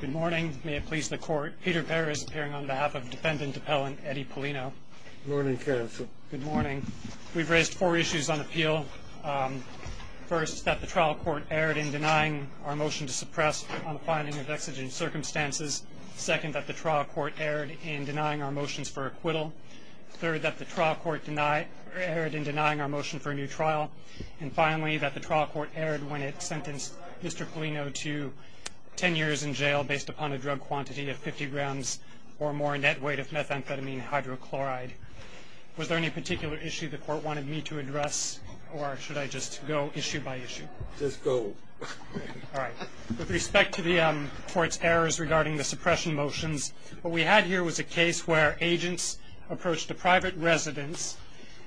Good morning. May it please the court. Peter Behr is appearing on behalf of defendant appellant Eddie Paulino. Good morning, counsel. Good morning. We've raised four issues on appeal. First, that the trial court erred in denying our motion to suppress on finding of exigent circumstances. Second, that the trial court erred in denying our motions for acquittal. Third, that the trial court erred in denying our motion for a new trial. And finally, that the trial court erred when it sentenced Mr. Paulino to 10 years in jail based upon a drug quantity of 50 grams or more net weight of methamphetamine hydrochloride. Was there any particular issue the court wanted me to address, or should I just go issue by issue? Just go. All right. With respect to the court's errors regarding the suppression motions, what we had here was a case where agents approached a private residence.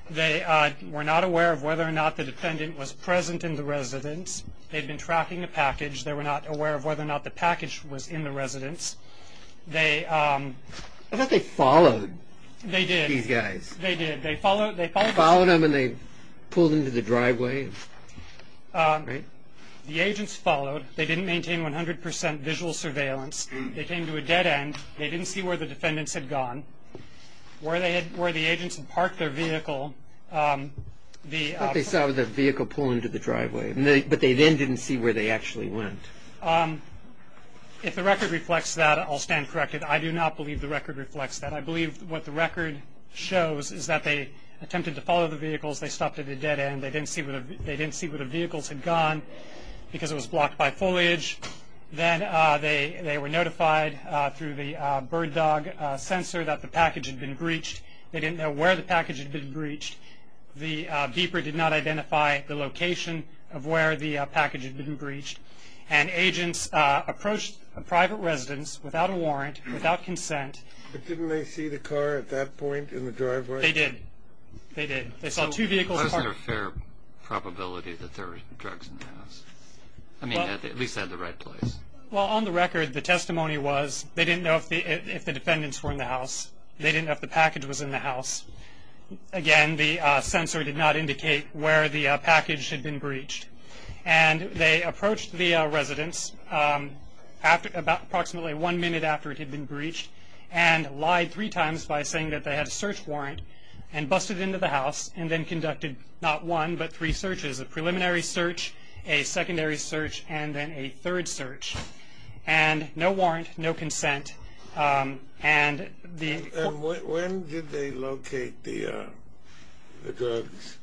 They were not aware of whether or not the defendant was present in the residence. They'd been tracking a package. They were not aware of whether or not the package was in the residence. I thought they followed these guys. They did. They followed them and they pulled them to the driveway? The agents followed. They didn't maintain 100% visual surveillance. They came to a dead end. They didn't see where the defendants had gone. Where the agents had parked their vehicle. What they saw was a vehicle pulling to the driveway, but they then didn't see where they actually went. If the record reflects that, I'll stand corrected. I do not believe the record reflects that. I believe what the record shows is that they attempted to follow the vehicles. They stopped at a dead end. They didn't see where the vehicles had gone because it was blocked by foliage. Then they were notified through the bird dog sensor that the package had been breached. They didn't know where the package had been breached. The beeper did not identify the location of where the package had been breached. And agents approached a private residence without a warrant, without consent. But didn't they see the car at that point in the driveway? They did. They did. They saw two vehicles parked. How is there a fair probability that there were drugs in the house? I mean, at least they had the right place. Well, on the record, the testimony was they didn't know if the defendants were in the house. They didn't know if the package was in the house. Again, the sensor did not indicate where the package had been breached. And they approached the residence approximately one minute after it had been breached and lied three times by saying that they had a search warrant and busted into the house and then conducted not one but three searches, a preliminary search, a secondary search, and then a third search. And no warrant, no consent. And the – And when did they locate the drugs?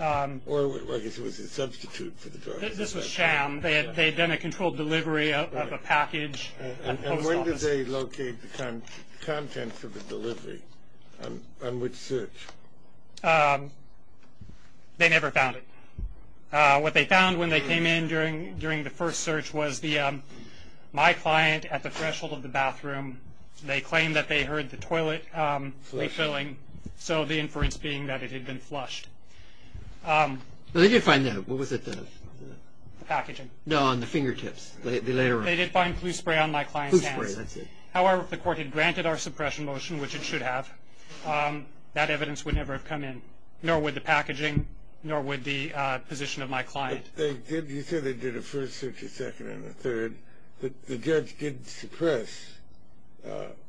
Or I guess it was a substitute for the drugs. This was sham. They had done a controlled delivery of a package. And when did they locate the contents of the delivery? And which search? They never found it. What they found when they came in during the first search was my client, at the threshold of the bathroom, they claimed that they heard the toilet refilling, so the inference being that it had been flushed. They did find that. What was it? The packaging. No, on the fingertips. They later on. They did find flu spray on my client's hands. Flu spray, that's it. However, if the court had granted our suppression motion, which it should have, that evidence would never have come in, nor would the packaging, nor would the position of my client. You said they did a first search, a second, and a third. The judge did suppress.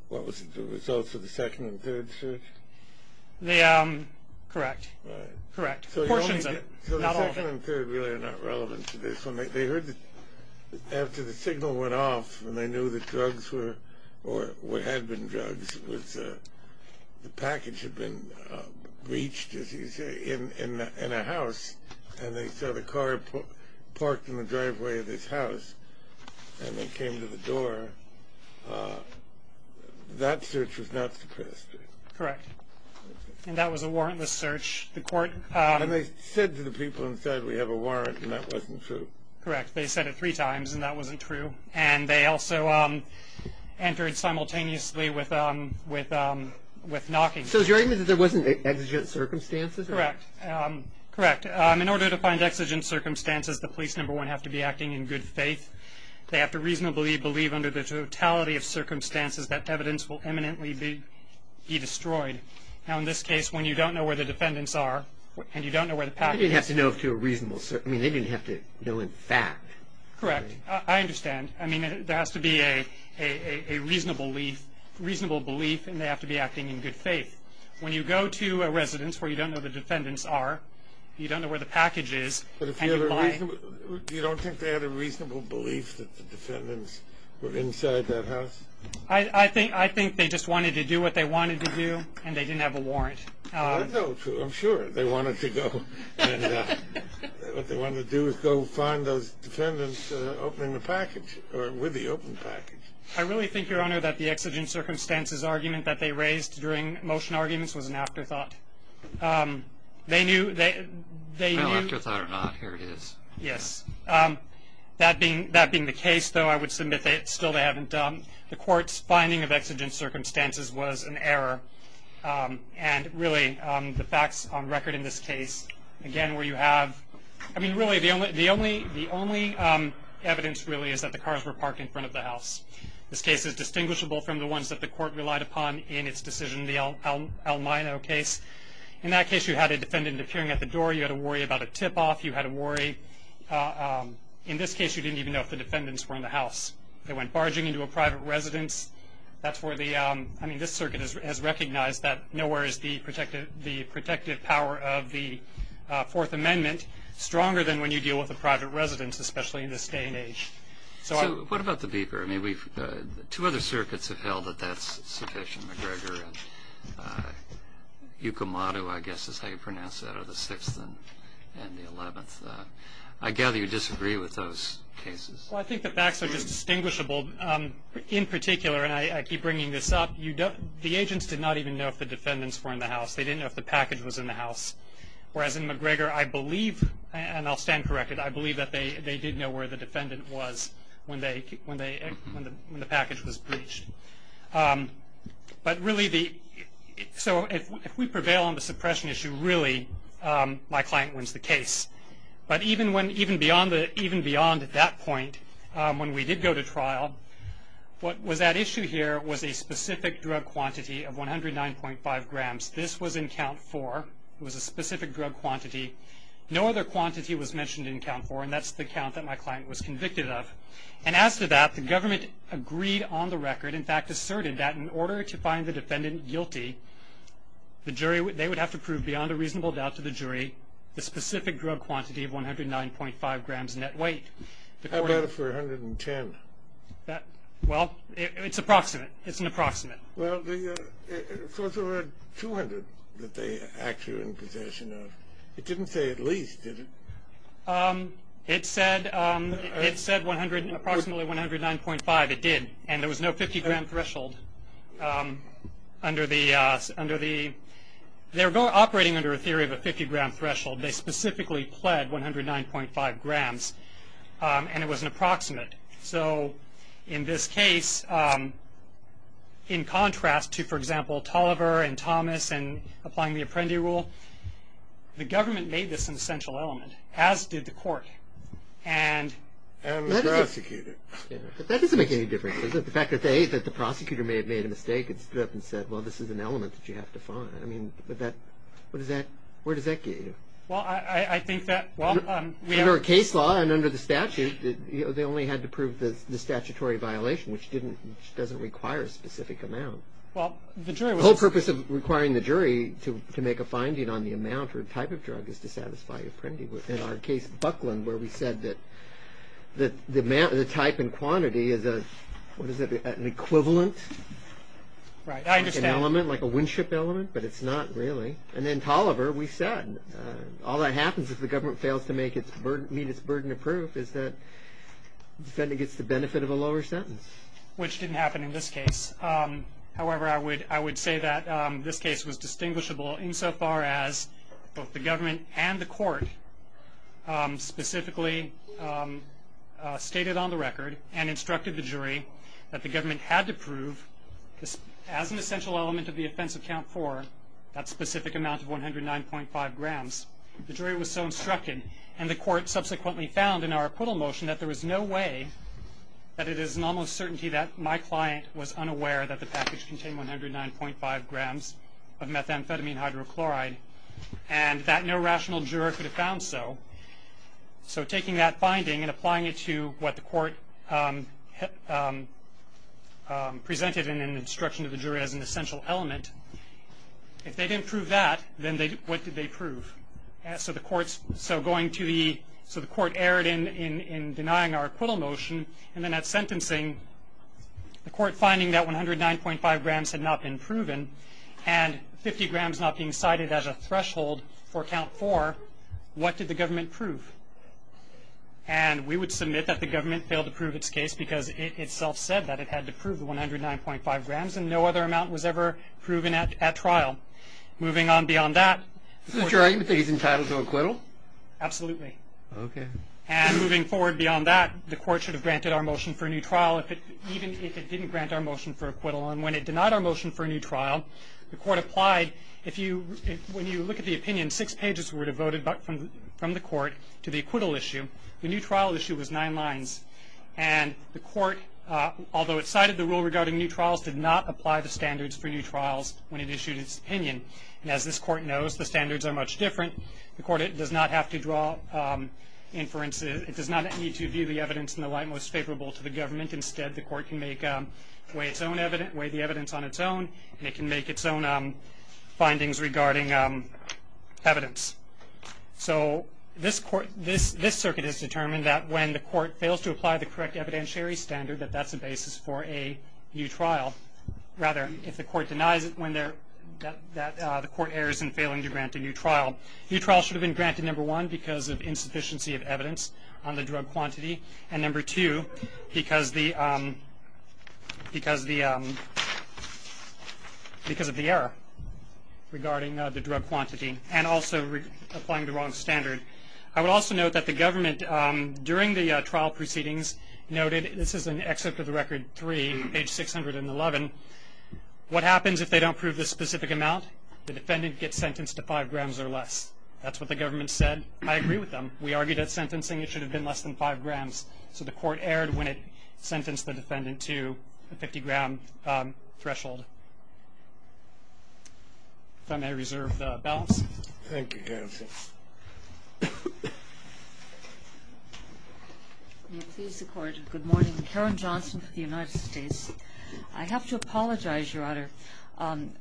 What was it, the results of the second and third search? Correct. Correct. Portions of it, not all of it. So the second and third really are not relevant to this one. After the signal went off and they knew that drugs were or had been drugs, the package had been breached, as you say, in a house, and they saw the car parked in the driveway of this house, and they came to the door, that search was not suppressed. Correct. And that was a warrantless search. And they said to the people inside, we have a warrant, and that wasn't true. Correct. They said it three times, and that wasn't true. And they also entered simultaneously with knocking. So is your argument that there wasn't exigent circumstances? Correct. Correct. In order to find exigent circumstances, the police, number one, have to be acting in good faith. They have to reasonably believe under the totality of circumstances that evidence will eminently be destroyed. Now, in this case, when you don't know where the defendants are, and you don't know where the package is. They didn't have to know in fact. Correct. I understand. I mean, there has to be a reasonable belief, and they have to be acting in good faith. When you go to a residence where you don't know where the defendants are, you don't know where the package is, and you lie. You don't think they had a reasonable belief that the defendants were inside that house? I think they just wanted to do what they wanted to do, and they didn't have a warrant. I know, too. I'm sure they wanted to go. What they wanted to do was go find those defendants opening the package, or with the open package. I really think, Your Honor, that the exigent circumstances argument that they raised during motion arguments was an afterthought. They knew they knew. No afterthought or not. Here it is. Yes. That being the case, though, I would submit that still they haven't done. The court's finding of exigent circumstances was an error, and really the facts on record in this case, again, where you have, I mean, really, the only evidence really is that the cars were parked in front of the house. This case is distinguishable from the ones that the court relied upon in its decision, the El Mino case. In that case, you had a defendant appearing at the door. You had to worry about a tip-off. You had to worry. In this case, you didn't even know if the defendants were in the house. They went barging into a private residence. That's where the, I mean, this circuit has recognized that nowhere is the protective power of the Fourth Amendment stronger than when you deal with a private residence, especially in this day and age. So what about the beeper? I mean, two other circuits have held that that's sufficient. McGregor and Yukimoto, I guess is how you pronounce that, are the 6th and the 11th. I gather you disagree with those cases. Well, I think the facts are just distinguishable. In particular, and I keep bringing this up, the agents did not even know if the defendants were in the house. They didn't know if the package was in the house, whereas in McGregor, I believe, and I'll stand corrected, I believe that they did know where the defendant was when the package was breached. But really, so if we prevail on the suppression issue, really, my client wins the case. But even beyond that point, when we did go to trial, what was at issue here was a specific drug quantity of 109.5 grams. This was in count four. It was a specific drug quantity. No other quantity was mentioned in count four, and that's the count that my client was convicted of. And as to that, the government agreed on the record, in fact, asserted that in order to find the defendant guilty, they would have to prove beyond a reasonable doubt to the jury the specific drug quantity of 109.5 grams net weight. How about if we're 110? Well, it's approximate. It's an approximate. Well, of course, there were 200 that they actually were in possession of. It didn't say at least, did it? It said approximately 109.5. It did, and there was no 50-gram threshold. They were operating under a theory of a 50-gram threshold. They specifically pled 109.5 grams, and it was an approximate. So in this case, in contrast to, for example, Toliver and Thomas and applying the Apprendi rule, the government made this an essential element, as did the court. And the prosecutor. But that doesn't make any difference, does it? The fact that the prosecutor may have made a mistake and stood up and said, well, this is an element that you have to find. I mean, where does that get you? Well, I think that, well, we have- Well, under the statute, they only had to prove the statutory violation, which doesn't require a specific amount. Well, the jury was- The whole purpose of requiring the jury to make a finding on the amount or type of drug is to satisfy Apprendi. In our case, Buckland, where we said that the type and quantity is an equivalent- Right, I understand. Like an element, like a windship element, but it's not really. And then Toliver, we said, all that happens if the government fails to meet its burden of proof is that the defendant gets the benefit of a lower sentence. Which didn't happen in this case. However, I would say that this case was distinguishable insofar as both the government and the court specifically stated on the record and instructed the jury that the government had to prove, as an essential element of the offense of count four, that specific amount of 109.5 grams. The jury was so instructed, and the court subsequently found in our acquittal motion that there was no way that it is an almost certainty that my client was unaware that the package contained 109.5 grams of methamphetamine hydrochloride, and that no rational juror could have found so. So taking that finding and applying it to what the court presented and instruction to the jury as an essential element, if they didn't prove that, then what did they prove? So the court erred in denying our acquittal motion, and then at sentencing, the court finding that 109.5 grams had not been proven, and 50 grams not being cited as a threshold for count four, what did the government prove? And we would submit that the government failed to prove its case because it itself said that it had to prove the 109.5 grams, and no other amount was ever proven at trial. Moving on beyond that... Is it your argument that he's entitled to acquittal? Absolutely. Okay. And moving forward beyond that, the court should have granted our motion for a new trial even if it didn't grant our motion for acquittal, and when it denied our motion for a new trial, the court applied. When you look at the opinion, six pages were devoted from the court to the acquittal issue. The new trial issue was nine lines, and the court, although it cited the rule regarding new trials, did not apply the standards for new trials when it issued its opinion. And as this court knows, the standards are much different. The court does not have to draw inferences. It does not need to view the evidence in the light most favorable to the government. Instead, the court can weigh the evidence on its own, and it can make its own findings regarding evidence. So this circuit has determined that when the court fails to apply the correct evidentiary standard, that that's the basis for a new trial. Rather, if the court denies it, the court errors in failing to grant a new trial. New trials should have been granted, number one, because of insufficiency of evidence on the drug quantity, and number two, because of the error regarding the drug quantity, and also applying the wrong standard. I would also note that the government, during the trial proceedings, noted, this is in Excerpt of the Record 3, page 611, what happens if they don't prove the specific amount? The defendant gets sentenced to five grams or less. That's what the government said. I agree with them. We argued at sentencing it should have been less than five grams. So the court erred when it sentenced the defendant to a 50-gram threshold. If I may reserve the balance. Thank you, Your Honor. May it please the Court, good morning. Karen Johnson for the United States. I have to apologize, Your Honor.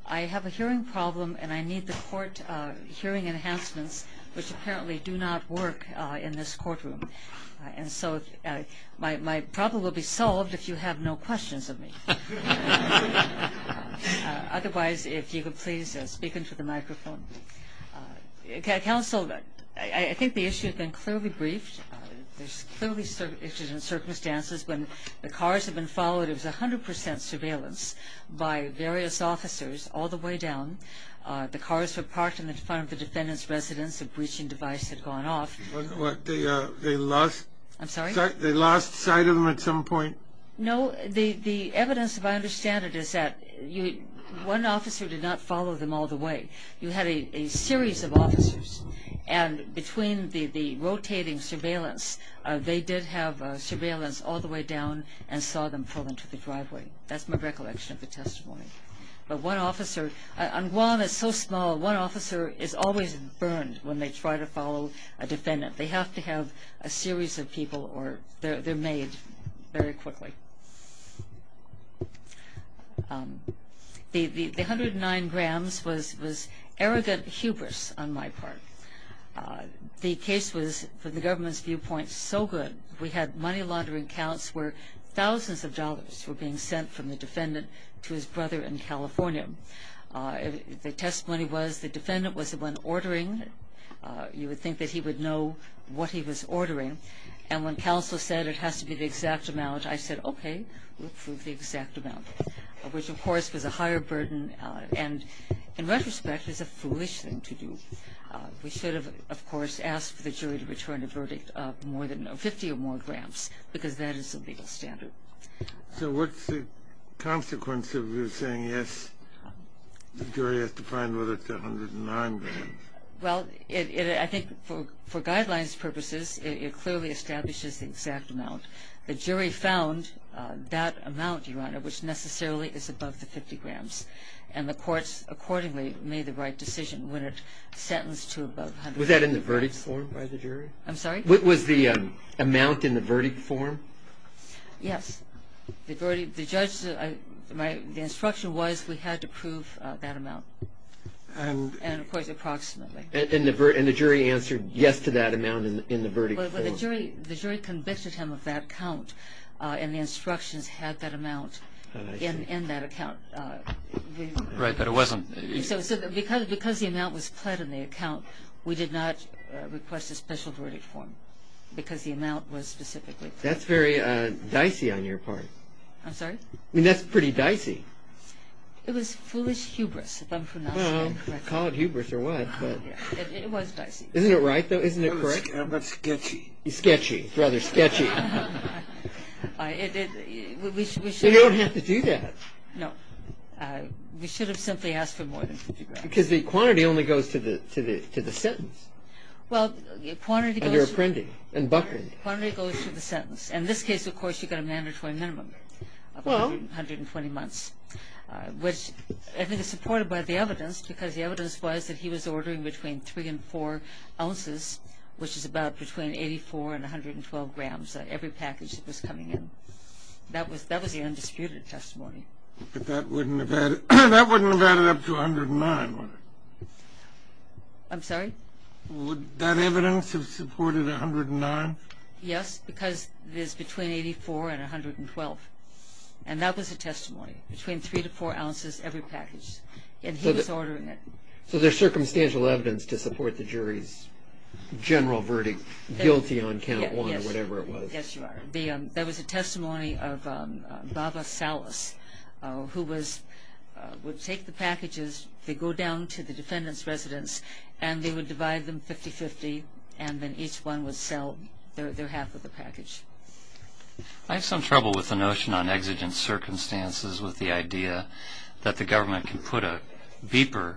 I have a hearing problem, and I need the court hearing enhancements, which apparently do not work in this courtroom. And so my problem will be solved if you have no questions of me. Otherwise, if you could please speak into the microphone. Counsel, I think the issue has been clearly briefed. There's clearly issues and circumstances. When the cars have been followed, it was 100 percent surveillance by various officers all the way down. The cars were parked in front of the defendant's residence. The breaching device had gone off. What, they lost sight of them at some point? No. The evidence, if I understand it, is that one officer did not follow them all the way. You had a series of officers. And between the rotating surveillance, they did have surveillance all the way down and saw them pull into the driveway. That's my recollection of the testimony. But one officer, and Guam is so small, one officer is always burned when they try to follow a defendant. They have to have a series of people or they're made very quickly. The 109 grams was arrogant hubris on my part. The case was, from the government's viewpoint, so good. We had money laundering counts where thousands of dollars were being sent from the defendant to his brother in California. The testimony was the defendant was the one ordering. You would think that he would know what he was ordering. And when counsel said it has to be the exact amount, I said, okay, we'll prove the exact amount, which, of course, was a higher burden. And in retrospect, it's a foolish thing to do. We should have, of course, asked for the jury to return a verdict of more than 50 or more grams because that is the legal standard. So what's the consequence of you saying, yes, the jury has to find whether it's 109 grams? Well, I think for guidelines purposes, it clearly establishes the exact amount. The jury found that amount, Your Honor, which necessarily is above the 50 grams. And the courts accordingly made the right decision when it sentenced to above 100 grams. Was that in the verdict form by the jury? I'm sorry? Was the amount in the verdict form? Yes. The judge, the instruction was we had to prove that amount, and, of course, approximately. And the jury answered yes to that amount in the verdict form? Well, the jury convicted him of that count, and the instructions had that amount in that account. Right, but it wasn't. So because the amount was pled in the account, we did not request a special verdict form because the amount was specifically pled. That's very dicey on your part. I'm sorry? I mean, that's pretty dicey. It was foolish hubris, if I'm pronouncing it correctly. Well, call it hubris or what, but... It was dicey. Isn't it right, though? Isn't it correct? I'm not sketchy. You're sketchy. It's rather sketchy. We should have... You don't have to do that. No. We should have simply asked for more than 50 grams. Because the quantity only goes to the sentence. Well, the quantity goes... Under Apprendi and Buckner. The quantity goes to the sentence. In this case, of course, you've got a mandatory minimum of 120 months, which I think is supported by the evidence, because the evidence was that he was ordering between 3 and 4 ounces, which is about between 84 and 112 grams, every package that was coming in. That was the undisputed testimony. But that wouldn't have added up to 109, would it? I'm sorry? Would that evidence have supported 109? Yes, because it is between 84 and 112. And that was the testimony, between 3 to 4 ounces every package. And he was ordering it. So there's circumstantial evidence to support the jury's general verdict, guilty on count one or whatever it was. Yes, Your Honor. There was a testimony of Baba Salas, who would take the packages, they go down to the defendant's residence, and they would divide them 50-50, and then each one would sell their half of the package. I have some trouble with the notion on exigent circumstances, with the idea that the government can put a beeper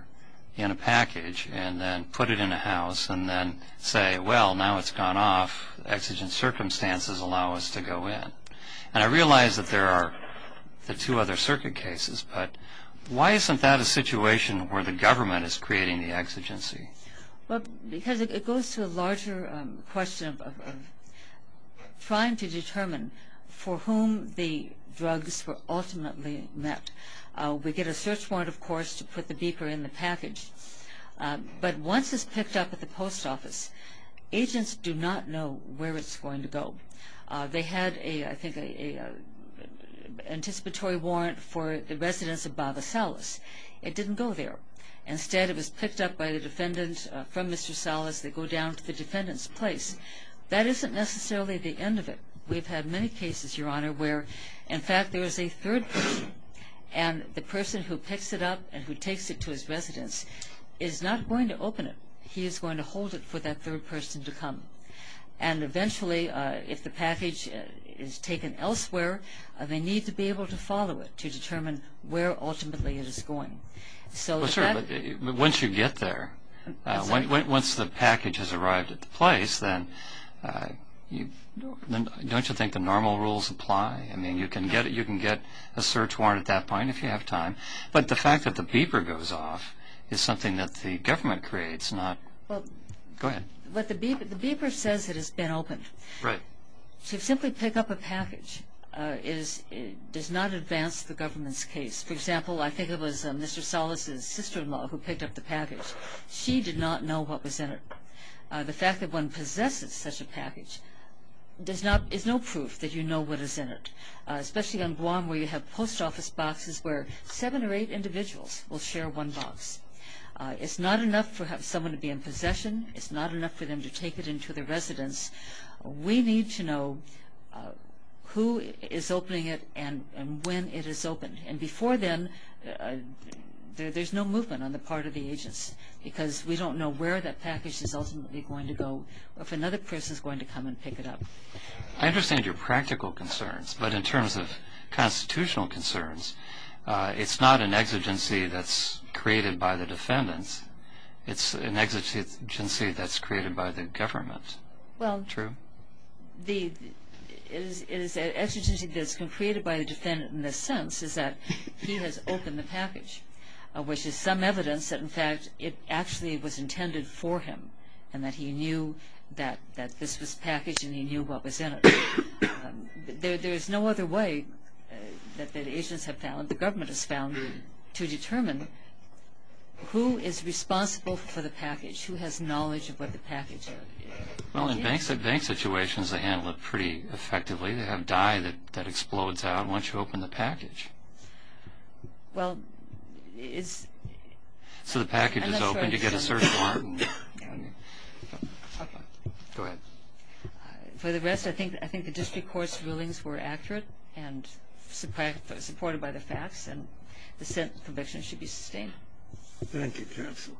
in a package and then put it in a house and then say, well, now it's gone off, exigent circumstances allow us to go in. And I realize that there are the two other circuit cases, but why isn't that a situation where the government is creating the exigency? Because it goes to a larger question of trying to determine for whom the drugs were ultimately met. We get a search warrant, of course, to put the beeper in the package. But once it's picked up at the post office, agents do not know where it's going to go. They had, I think, an anticipatory warrant for the residence of Baba Salas. It didn't go there. Instead, it was picked up by the defendant from Mr. Salas. They go down to the defendant's place. That isn't necessarily the end of it. We've had many cases, Your Honor, where, in fact, there is a third person, and the person who picks it up and who takes it to his residence is not going to open it. He is going to hold it for that third person to come. Eventually, if the package is taken elsewhere, they need to be able to follow it to determine where, ultimately, it is going. Once you get there, once the package has arrived at the place, then don't you think the normal rules apply? You can get a search warrant at that point if you have time. But the fact that the beeper goes off is something that the government creates. Go ahead. The beeper says it has been opened. To simply pick up a package does not advance the government's case. For example, I think it was Mr. Salas's sister-in-law who picked up the package. She did not know what was in it. The fact that one possesses such a package is no proof that you know what is in it, especially on Guam where you have post office boxes where seven or eight individuals will share one box. It is not enough for someone to be in possession. It is not enough for them to take it into their residence. We need to know who is opening it and when it is opened. Before then, there is no movement on the part of the agents because we don't know where that package is ultimately going to go or if another person is going to come and pick it up. I understand your practical concerns, but in terms of constitutional concerns, it is not an exigency that is created by the defendants. It is an exigency that is created by the government. True. It is an exigency that is created by the defendant in the sense that he has opened the package, which is some evidence that, in fact, it actually was intended for him and that he knew that this was packaged and he knew what was in it. There is no other way that the agents have found, the government has found, to determine who is responsible for the package, who has knowledge of what the package is. Well, in bank-to-bank situations, they handle it pretty effectively. They have dye that explodes out once you open the package. Well, it's... So the package is open, you get a search warrant. Go ahead. For the rest, I think the district court's rulings were accurate and supported by the facts, and the sentence conviction should be sustained. Thank you, counsel.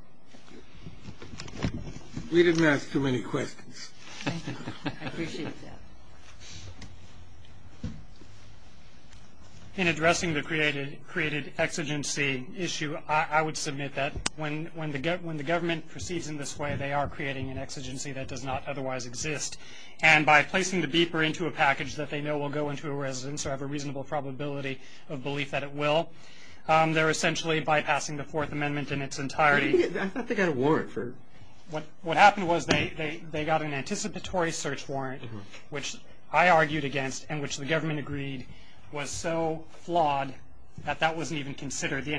We didn't ask too many questions. Thank you. I appreciate that. In addressing the created exigency issue, I would submit that when the government proceeds in this way, they are creating an exigency that does not otherwise exist. And by placing the beeper into a package that they know will go into a residence or have a reasonable probability of belief that it will, they're essentially bypassing the Fourth Amendment in its entirety. I thought they got a warrant for... What happened was they got an anticipatory search warrant, which I argued against and which the government agreed was so flawed that that wasn't even considered. They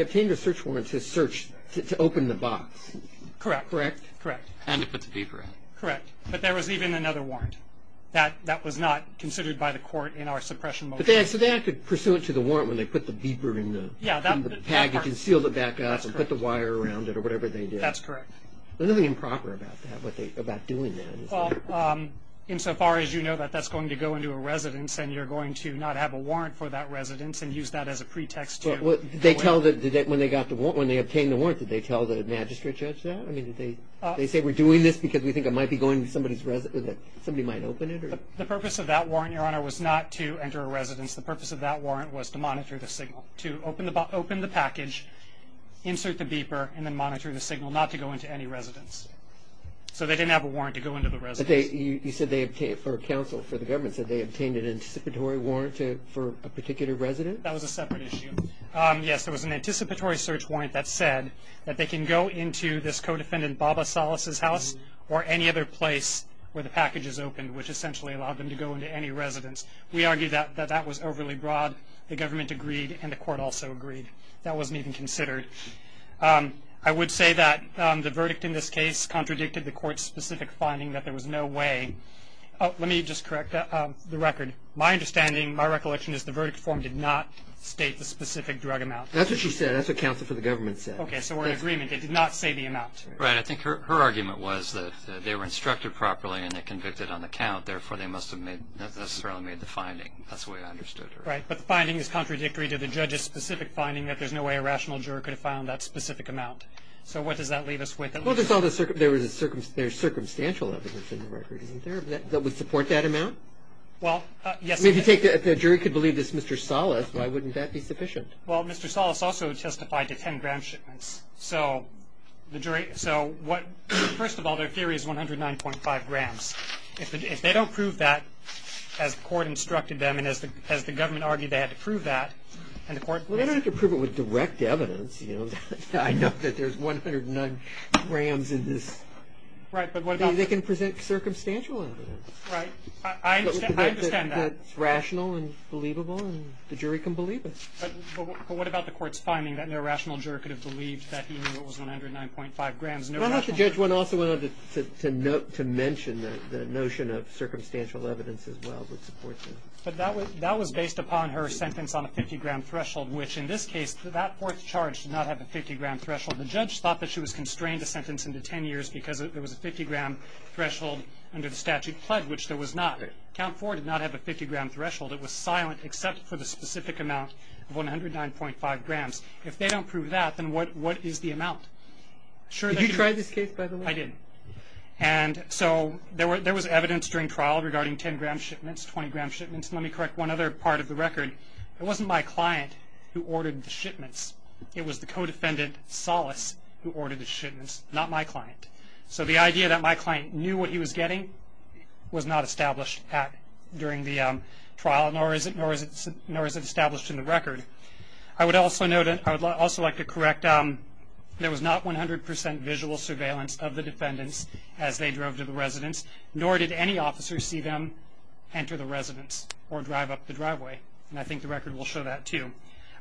obtained a search warrant to search, to open the box. Correct. Correct. And to put the beeper in. Correct. But there was even another warrant. That was not considered by the court in our suppression motion. So they had to pursue it to the warrant when they put the beeper in the package and sealed it back up and put the wire around it or whatever they did. That's correct. There's nothing improper about that, about doing that. Well, insofar as you know that that's going to go into a residence and you're going to not have a warrant for that residence and use that as a pretext to... When they obtained the warrant, did they tell the magistrate judge that? Did they say we're doing this because we think it might be going to somebody's residence, that somebody might open it? The purpose of that warrant, Your Honor, was not to enter a residence. The purpose of that warrant was to monitor the signal, to open the package, insert the beeper, and then monitor the signal not to go into any residence. So they didn't have a warrant to go into the residence. You said they obtained, or counsel for the government said they obtained an anticipatory warrant for a particular residence? That was a separate issue. Yes, there was an anticipatory search warrant that said that they can go into this co-defendant Baba Salas' house or any other place where the package is opened, which essentially allowed them to go into any residence. We argue that that was overly broad. The government agreed and the court also agreed. That wasn't even considered. I would say that the verdict in this case contradicted the court's specific finding that there was no way – oh, let me just correct the record. My understanding, my recollection is the verdict form did not state the specific drug amount. That's what she said. That's what counsel for the government said. Okay, so we're in agreement. It did not say the amount. Right. I think her argument was that they were instructed properly and they convicted on the count. Therefore, they must have made – necessarily made the finding. That's the way I understood her. Right. But the finding is contradictory to the judge's specific finding that there's no way a rational juror could have found that specific amount. So what does that leave us with? Well, there's all this – there's circumstantial evidence in the record, isn't there, that would support that amount? Well, yes. I mean, if the jury could believe this Mr. Salas, why wouldn't that be sufficient? Well, Mr. Salas also testified to 10-gram shipments. So the jury – so what – first of all, their theory is 109.5 grams. If they don't prove that as the court instructed them and as the government argued they had to prove that and the court – Well, they don't have to prove it with direct evidence. I know that there's 109 grams in this. Right, but what about – They can present circumstantial evidence. Right. I understand that. That's rational and believable and the jury can believe it. But what about the court's finding that no rational juror could have believed that he knew it was 109.5 grams? Why don't the judge also went on to mention the notion of circumstantial evidence as well would support that. But that was based upon her sentence on a 50-gram threshold, which in this case that fourth charge did not have a 50-gram threshold. The judge thought that she was constrained a sentence into 10 years because there was a 50-gram threshold under the statute pledged, which there was not. Count Ford did not have a 50-gram threshold. It was silent except for the specific amount of 109.5 grams. If they don't prove that, then what is the amount? Did you try this case, by the way? I did. And so there was evidence during trial regarding 10-gram shipments, 20-gram shipments. Let me correct one other part of the record. It wasn't my client who ordered the shipments. It was the co-defendant, Solace, who ordered the shipments, not my client. So the idea that my client knew what he was getting was not established during the trial, nor is it established in the record. I would also like to correct, there was not 100% visual surveillance of the defendants as they drove to the residence, and I think the record will show that, too.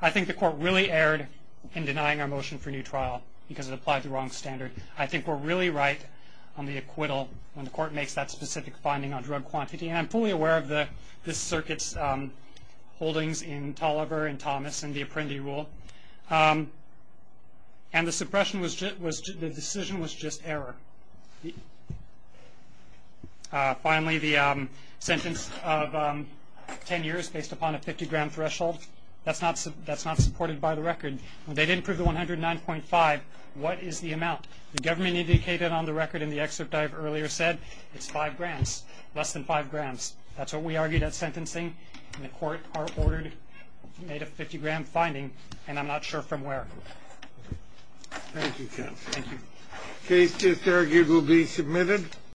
I think the court really erred in denying our motion for new trial because it applied the wrong standard. I think we're really right on the acquittal when the court makes that specific finding on drug quantity, and I'm fully aware of this circuit's holdings in Tolliver and Thomas and the Apprendi rule. And the suppression was just, the decision was just error. Finally, the sentence of 10 years based upon a 50-gram threshold, that's not supported by the record. They didn't prove the 109.5. What is the amount? The government indicated on the record in the excerpt I've earlier said, it's five grams, less than five grams. That's what we argued at sentencing, and the court made a 50-gram finding, and I'm not sure from where. Thank you, counsel. Thank you. The case just argued will be submitted.